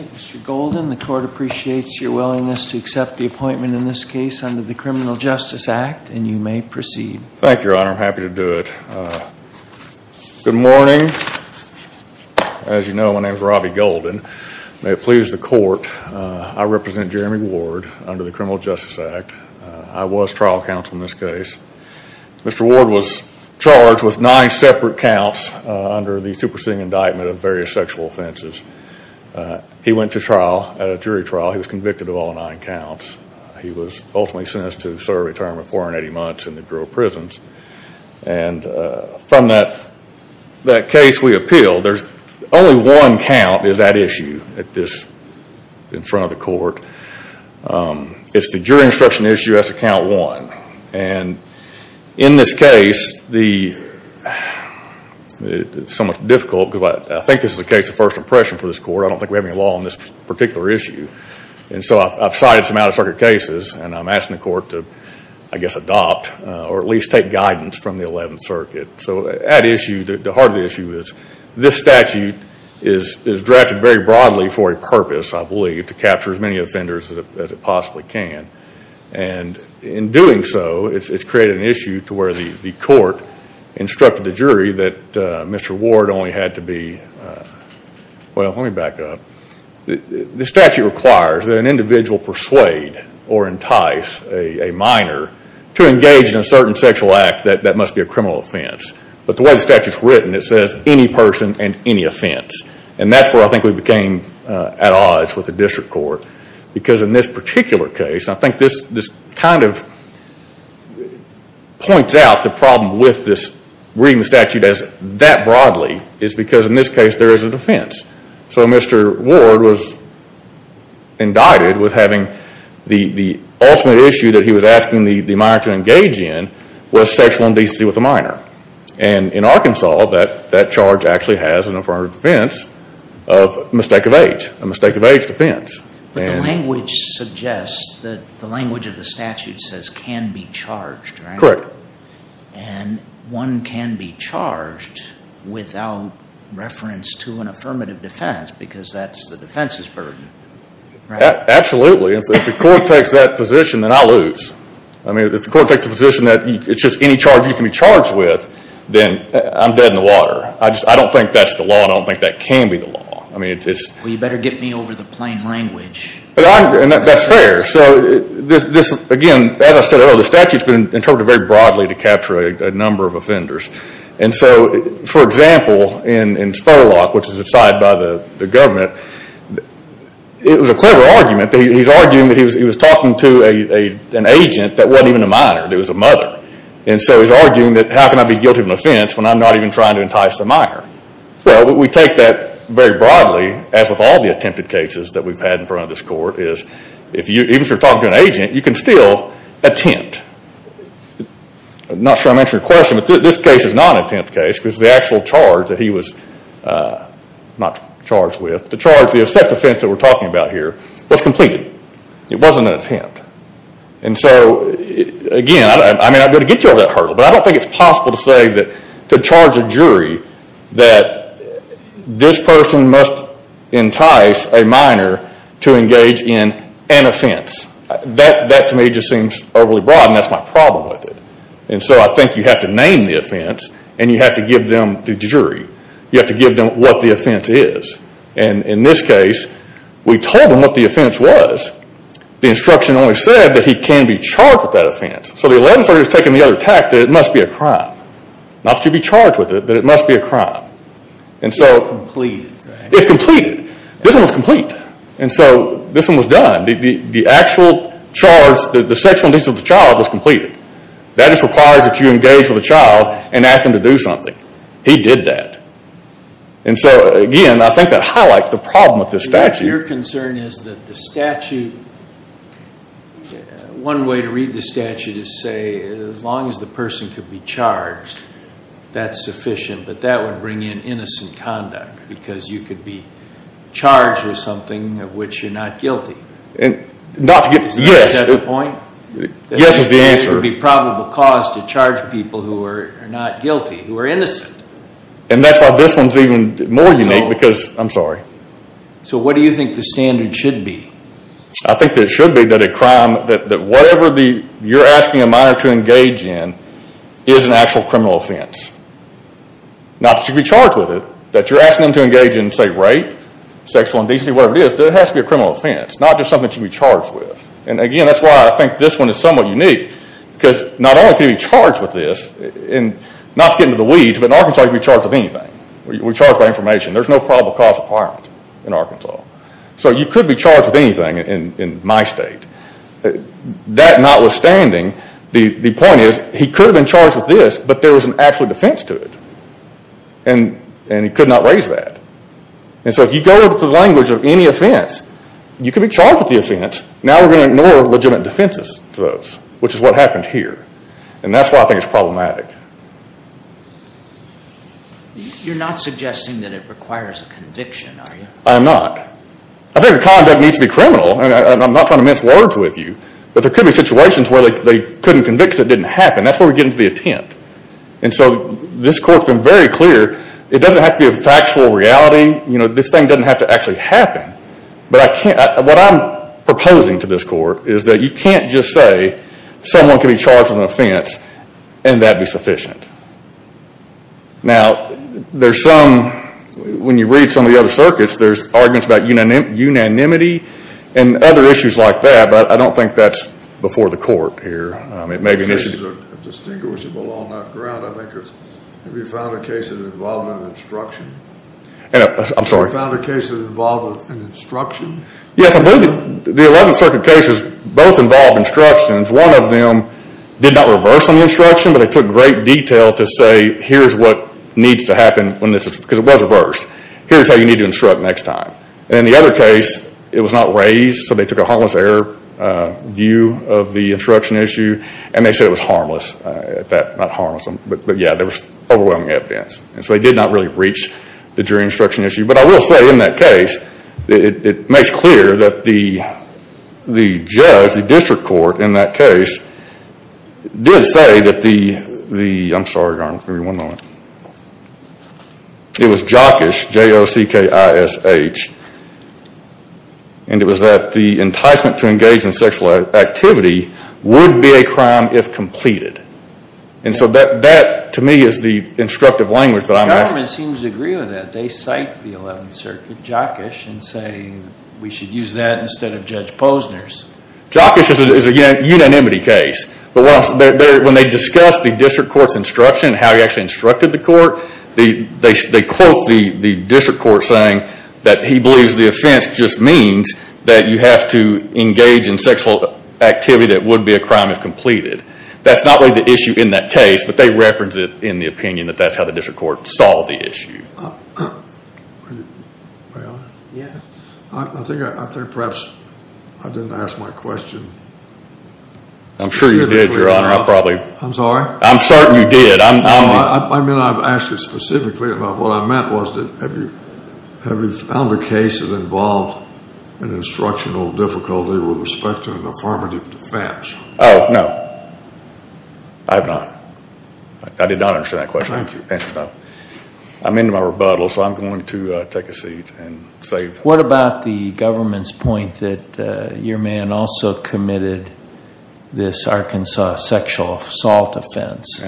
Mr. Golden, the Court appreciates your willingness to accept the appointment in this case under the Criminal Justice Act, and you may proceed. Thank you, Your Honor. I'm happy to do it. Good morning. As you know, my name is Robbie Golden. May it please the Court, I represent Jeremy Ward under the Criminal Justice Act. I was trial counsel in this case. Mr. Ward was charged with nine separate counts under the superseding indictment of various sexual offenses. He went to trial at a jury trial. He was convicted of all nine counts. He was ultimately sentenced to serve a term of 480 months in the Grove Prisons. And from that case we appealed, there's only one count is at issue at this, in front of the Court. It's the jury instruction issue as to count one. And in this case, it's somewhat difficult because I think this is a case of first impression for this Court. I don't think we have any law on this particular issue. And so I've cited some out-of-circuit cases, and I'm asking the Court to, I guess, adopt or at least take guidance from the Eleventh Circuit. So at issue, the heart of the issue is this statute is drafted very broadly for a purpose, I believe, to capture as many offenders as it possibly can. And in doing so, it's created an issue to where the Court instructed the jury that Mr. Ward only had to be, well, let me back up. The statute requires that an individual persuade or entice a minor to engage in a certain sexual act that must be a criminal offense. But the way the statute is written, it says any person and any offense. And that's where I think we became at odds with the District Court. Because in this particular case, I think this kind of points out the problem with this reading the statute as that broadly, is because in this case there is an offense. So Mr. Ward was indicted with having the ultimate issue that he was asking the minor to engage in was sexual indecency with a minor. And in Arkansas, that charge actually has an affirmative defense of mistake of age. A mistake of age defense. But the language suggests that the language of the statute says can be charged, right? Correct. Correct. And one can be charged without reference to an affirmative defense, because that's the defense's burden. Right? Absolutely. And so if the Court takes that position, then I lose. I mean, if the Court takes a position that it's just any charge you can be charged with, then I'm dead in the water. I just, I don't think that's the law and I don't think that can be the law. I mean, it's. Well, you better get me over the plain language. And that's fair. So this, again, as I said earlier, the statute's been interpreted very broadly to capture a number of offenders. And so, for example, in Spolok, which is decided by the government, it was a clever argument. He's arguing that he was talking to an agent that wasn't even a minor, that was a mother. And so he's arguing that how can I be guilty of an offense when I'm not even trying to entice the minor? Well, we take that very broadly, as with all the attempted cases that we've had in front of this Court, is if you, even if you're talking to an agent, you can still attempt. Not sure I'm answering your question, but this case is not an attempt case because the actual charge that he was, not charged with, the charge, the offense that we're talking about here was completed. It wasn't an attempt. And so, again, I may not be able to get you over that hurdle, but I don't think it's possible to say that, to charge a jury, that this person must entice a minor to engage in an That, to me, just seems overly broad, and that's my problem with it. And so I think you have to name the offense, and you have to give them the jury. You have to give them what the offense is. And in this case, we told them what the offense was. The instruction only said that he can be charged with that offense. So the 11th Circuit has taken the other tack, that it must be a crime. Not that you'd be charged with it, but it must be a crime. And so... It's completed, right? It's completed. This one was complete. And so, this one was done. The actual charge, the sexual indecency of the child was completed. That just requires that you engage with a child and ask them to do something. He did that. And so, again, I think that highlights the problem with this statute. Your concern is that the statute... One way to read the statute is to say, as long as the person could be charged, that's sufficient. But that would bring in innocent conduct, because you could be charged with something of which you're not guilty. Is that the point? Yes. Yes is the answer. It would be probable cause to charge people who are not guilty, who are innocent. And that's why this one's even more unique, because... I'm sorry. So, what do you think the standard should be? I think that it should be that a crime... That whatever you're asking a minor to engage in is an actual criminal offense. Not that you should be charged with it. That you're asking them to engage in, say, rape, sexual indecency, whatever it is, that has to be a criminal offense. Not just something that you should be charged with. And again, that's why I think this one is somewhat unique, because not only can you be charged with this, and not to get into the weeds, but an Arkansas can be charged with anything. We're charged by information. There's no probable cause of violence in Arkansas. So you could be charged with anything in my state. That notwithstanding, the point is, he could have been charged with this, but there was an actual defense to it. And he could not raise that. And so if you go into the language of any offense, you could be charged with the offense. Now we're going to ignore legitimate defenses to those, which is what happened here. And that's why I think it's problematic. You're not suggesting that it requires a conviction, are you? I'm not. I think the conduct needs to be criminal, and I'm not trying to mince words with you. But there could be situations where they couldn't convict because it didn't happen. That's where we get into the intent. And so this court's been very clear. It doesn't have to be a factual reality. This thing doesn't have to actually happen. But what I'm proposing to this court is that you can't just say someone can be charged with an offense, and that'd be sufficient. Now there's some, when you read some of the other circuits, there's arguments about unanimity and other issues like that, but I don't think that's before the court here. It may be an issue. A case that's distinguishable on that ground, I think, is have you found a case that involved an instruction? I'm sorry? Have you found a case that involved an instruction? Yes, I believe the 11th Circuit cases both involved instructions. One of them did not reverse on the instruction, but it took great detail to say here's what needs to happen when this is, because it was reversed, here's how you need to instruct next time. In the other case, it was not raised, so they took a harmless error view of the instruction issue, and they said it was harmless, not harmless, but yeah, there was overwhelming evidence. And so they did not really reach the jury instruction issue. But I will say in that case, it makes clear that the judge, the district court in that case, did say that the, I'm sorry, Your Honor, give me one moment, it was jockish, J-O-C-K-I-S-H, and it was that the enticement to engage in sexual activity would be a crime if completed. And so that, to me, is the instructive language that I'm asking. The government seems to agree with that. They cite the 11th Circuit, jockish, and say we should use that instead of Judge Posner's. Jockish is a unanimity case, but when they discuss the district court's instruction, how he actually instructed the court, they quote the district court saying that he believes the offense just means that you have to engage in sexual activity that would be a crime if That's not really the issue in that case, but they reference it in the opinion that that's how the district court saw the issue. I think perhaps I didn't ask my question. I'm sure you did, Your Honor. I probably. I'm sorry? I'm certain you did. I mean, I've asked it specifically, but what I meant was, have you found a case that involved an instructional difficulty with respect to an affirmative defense? Oh, no. I have not. I did not understand that question. I'm into my rebuttal, so I'm going to take a seat and save. What about the government's point that your man also committed this Arkansas sexual assault offense,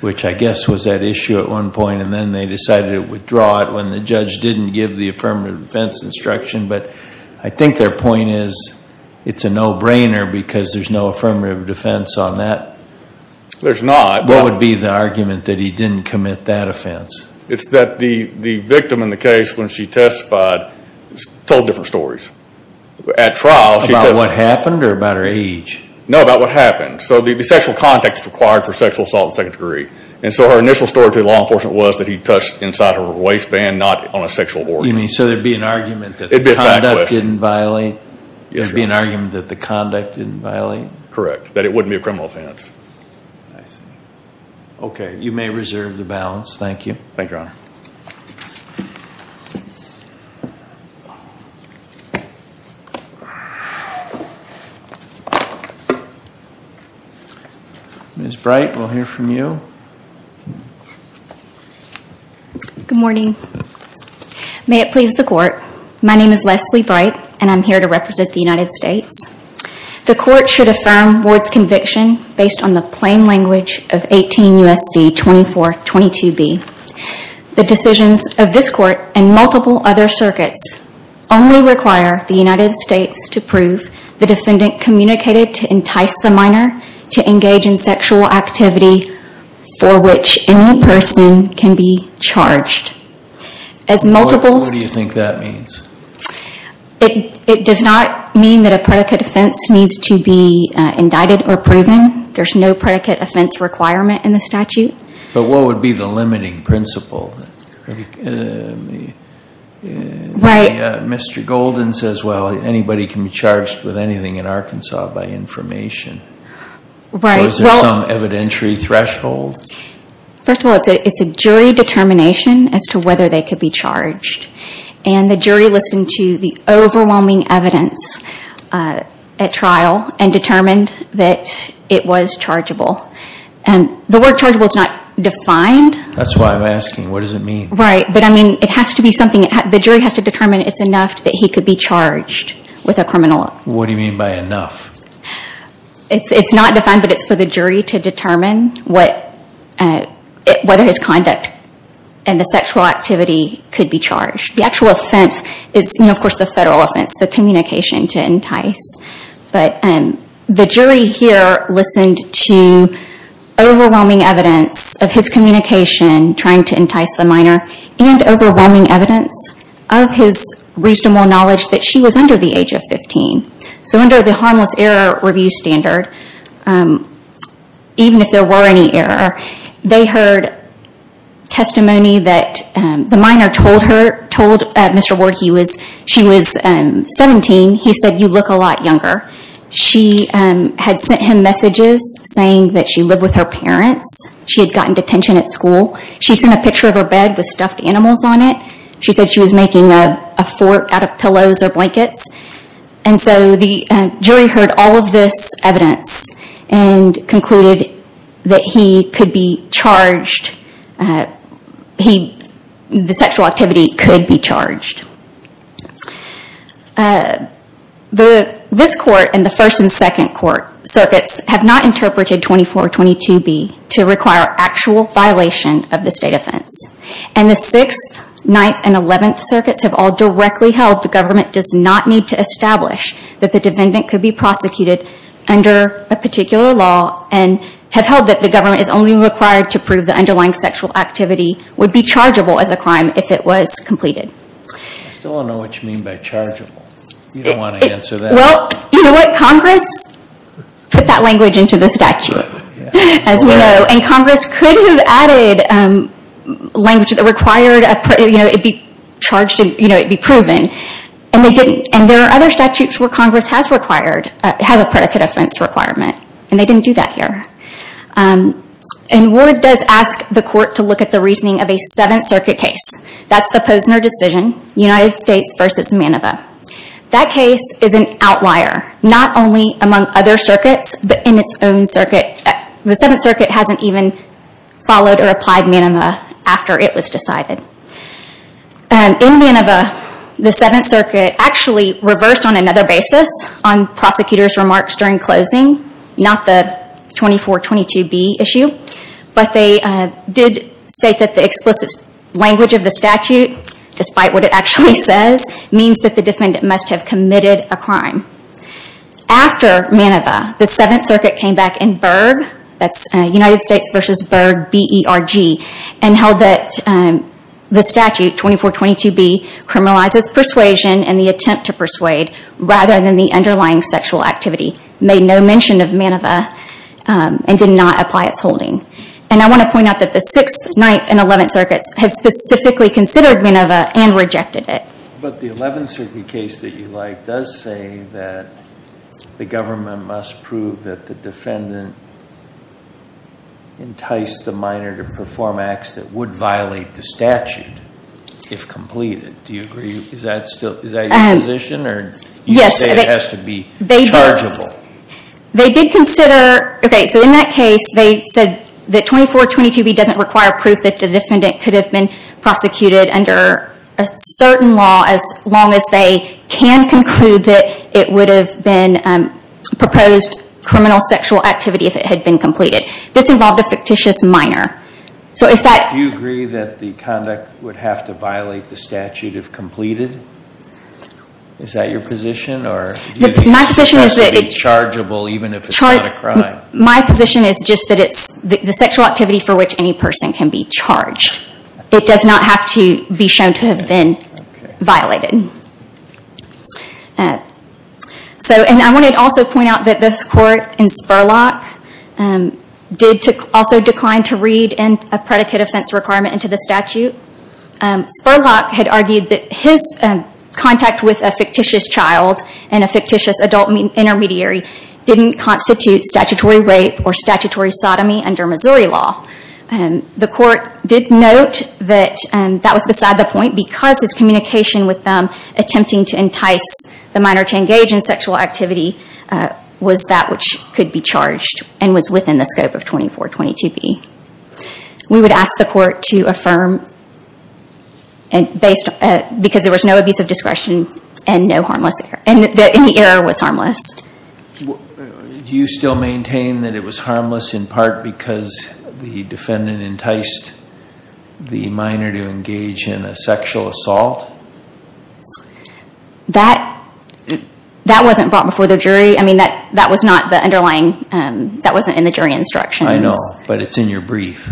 which I guess was at issue at one point, and then they decided to withdraw it when the judge didn't give the affirmative defense instruction, but I think their point is it's a no-brainer because there's no affirmative defense on that. There's not. What would be the argument that he didn't commit that offense? It's that the victim in the case, when she testified, told different stories. At trial, she told- About what happened or about her age? No, about what happened. So the sexual context required for sexual assault in the second degree, and so her initial story to the law enforcement was that he touched inside of her waistband, not on a sexual order. You mean, so there'd be an argument that the conduct didn't violate? It'd be a fact question. There'd be an argument that the conduct didn't violate? Correct. That it wouldn't be a criminal offense. I see. Okay, you may reserve the balance. Thank you. Thank you, Your Honor. Ms. Bright, we'll hear from you. Good morning. May it please the Court, my name is Leslie Bright, and I'm here to represent the United States. The Court should affirm Ward's conviction based on the plain language of 18 U.S.C. 2422b. The decisions of this Court and multiple other circuits only require the United States to prove the defendant communicated to entice the minor to engage in sexual activity for which any person can be charged. As multiple- What do you think that means? It does not mean that a predicate offense needs to be indicted or proven. There's no predicate offense requirement in the statute. But what would be the limiting principle? Mr. Golden says, well, anybody can be charged with anything in Arkansas by information. Right. Is there some evidentiary threshold? First of all, it's a jury determination as to whether they could be charged. And the jury listened to the overwhelming evidence at trial and determined that it was chargeable. The word chargeable is not defined. That's why I'm asking. What does it mean? Right. But I mean, it has to be something. The jury has to determine it's enough that he could be charged with a criminal- What do you mean by enough? It's not defined, but it's for the jury to determine whether his conduct and the sexual activity could be charged. The actual offense is, of course, the federal offense, the communication to entice. But the jury here listened to overwhelming evidence of his communication, trying to entice the minor, and overwhelming evidence of his reasonable knowledge that she was under the age of 15. So under the Harmless Error Review Standard, even if there were any error, they heard testimony that the minor told Mr. Ward she was 17. He said, you look a lot younger. She had sent him messages saying that she lived with her parents. She had gotten detention at school. She sent a picture of her bed with stuffed animals on it. She said she was making a fort out of pillows or blankets. And so the jury heard all of this evidence and concluded that he could be charged. The sexual activity could be charged. This court and the first and second court circuits have not interpreted 2422B to require actual violation of the state offense. And the 6th, 9th, and 11th circuits have all directly held the government does not need to establish that the defendant could be prosecuted under a particular law, and have held that the government is only required to prove the underlying sexual activity would be chargeable as a crime if it was completed. I still don't know what you mean by chargeable. You don't want to answer that. Well, you know what? Congress put that language into the statute, as we know. And Congress could have added language that required it be charged and it be proven. And there are other statutes where Congress has a predicate offense requirement. And they didn't do that here. And Ward does ask the court to look at the reasoning of a 7th Circuit case. That's the Posner decision, United States v. Manova. That case is an outlier, not only among other circuits, but in its own circuit. The 7th Circuit hasn't even followed or applied Manova after it was decided. In Manova, the 7th Circuit actually reversed on another basis on prosecutors' remarks during closing, not the 2422B issue. But they did state that the explicit language of the statute, despite what it actually says, means that the defendant must have committed a crime. After Manova, the 7th Circuit came back in Berg, that's United States v. Berg, B-E-R-G, and held that the statute, 2422B, criminalizes persuasion and the attempt to persuade, rather than the underlying sexual activity. Made no mention of Manova and did not apply its holding. And I want to point out that the 6th, 9th, and 11th Circuits have specifically considered Manova and rejected it. But the 11th Circuit case that you like does say that the government must prove that the defendant enticed the minor to perform acts that would violate the statute if completed. Do you agree? Is that still, is that your position, or do you say it has to be chargeable? They did consider, okay, so in that case, they said that 2422B doesn't require proof that the defendant could have been prosecuted under a certain law, as long as they can conclude that it would have been proposed criminal sexual activity if it had been completed. This involved a fictitious minor. So if that- Do you agree that the conduct would have to violate the statute if completed? Is that your position, or- My position is that- It has to be chargeable, even if it's not a crime. My position is just that it's the sexual activity for which any person can be charged. It does not have to be shown to have been violated. So, and I wanted to also point out that this court in Spurlock did also decline to read in a predicate offense requirement into the statute. Spurlock had argued that his contact with a fictitious child and a fictitious adult intermediary didn't constitute statutory rape or statutory sodomy under Missouri law. The court did note that that was beside the point, because his communication with them, attempting to entice the minor to engage in sexual activity, was that which could be charged, and was within the scope of 2422B. We would ask the court to affirm, because there was no abuse of discretion and no harmless, and the error was harmless. Do you still maintain that it was harmless in part because the defendant enticed the minor to engage in a sexual assault? That wasn't brought before the jury. I mean, that was not the underlying, that wasn't in the jury instructions. I know, but it's in your brief.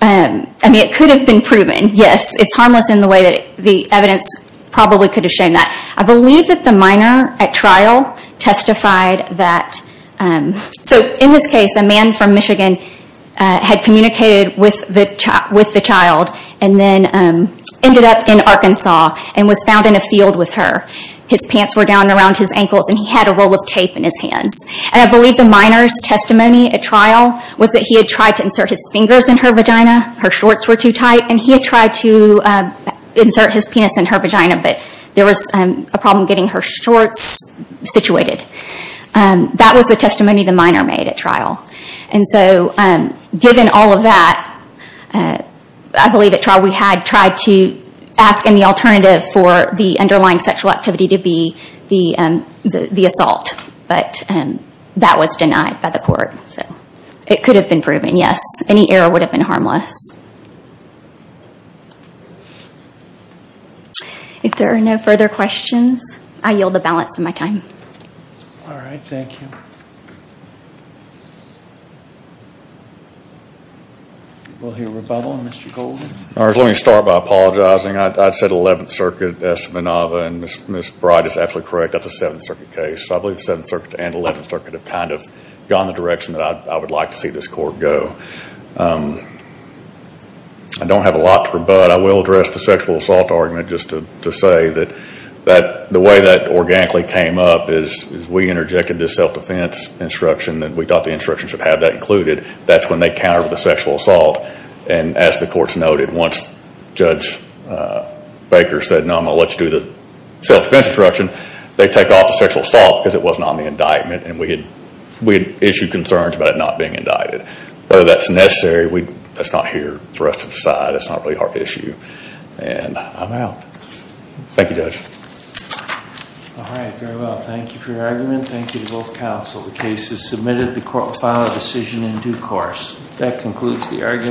I mean, it could have been proven, yes. It's harmless in the way that the evidence probably could have shown that. I believe that the minor, at trial, testified that, so in this case, a man from Michigan had communicated with the child, and then ended up in Arkansas, and was found in a field with her. His pants were down around his ankles, and he had a roll of tape in his hands. And I believe the minor's testimony at trial was that he had tried to insert his fingers in her vagina, her shorts were too tight, and he had tried to insert his penis in her vagina, but there was a problem getting her shorts situated. That was the testimony the minor made at trial. And so, given all of that, I believe at trial we had tried to ask any alternative for the underlying sexual activity to be the assault, but that was denied by the court. So, it could have been proven, yes. Any error would have been harmless. If there are no further questions, I yield the balance of my time. All right, thank you. We'll hear rebuttal. Mr. Goldman? All right, let me start by apologizing. I said 11th Circuit, S. Manova, and Ms. Bright is absolutely correct. That's a 7th Circuit case. So, I believe 7th Circuit and 11th Circuit have kind of gone the direction that I would like to see this court go. I don't have a lot to rebut. I will address the sexual assault argument, just to say that the way that organically came up is we interjected this self-defense instruction, and we thought the instruction should have that included. That's when they countered the sexual assault. And as the courts noted, once Judge Baker said, no, I'm going to let you do the self-defense instruction, they take off the sexual assault because it wasn't on the indictment, and we had issued concerns about it not being indicted. Whether that's necessary, that's not here for us to decide. It's not really our issue. And I'm out. Thank you, Judge. All right, very well. Thank you for your argument. Thank you to both counsel. The case is submitted. The court will file a decision in due course. That concludes the argument.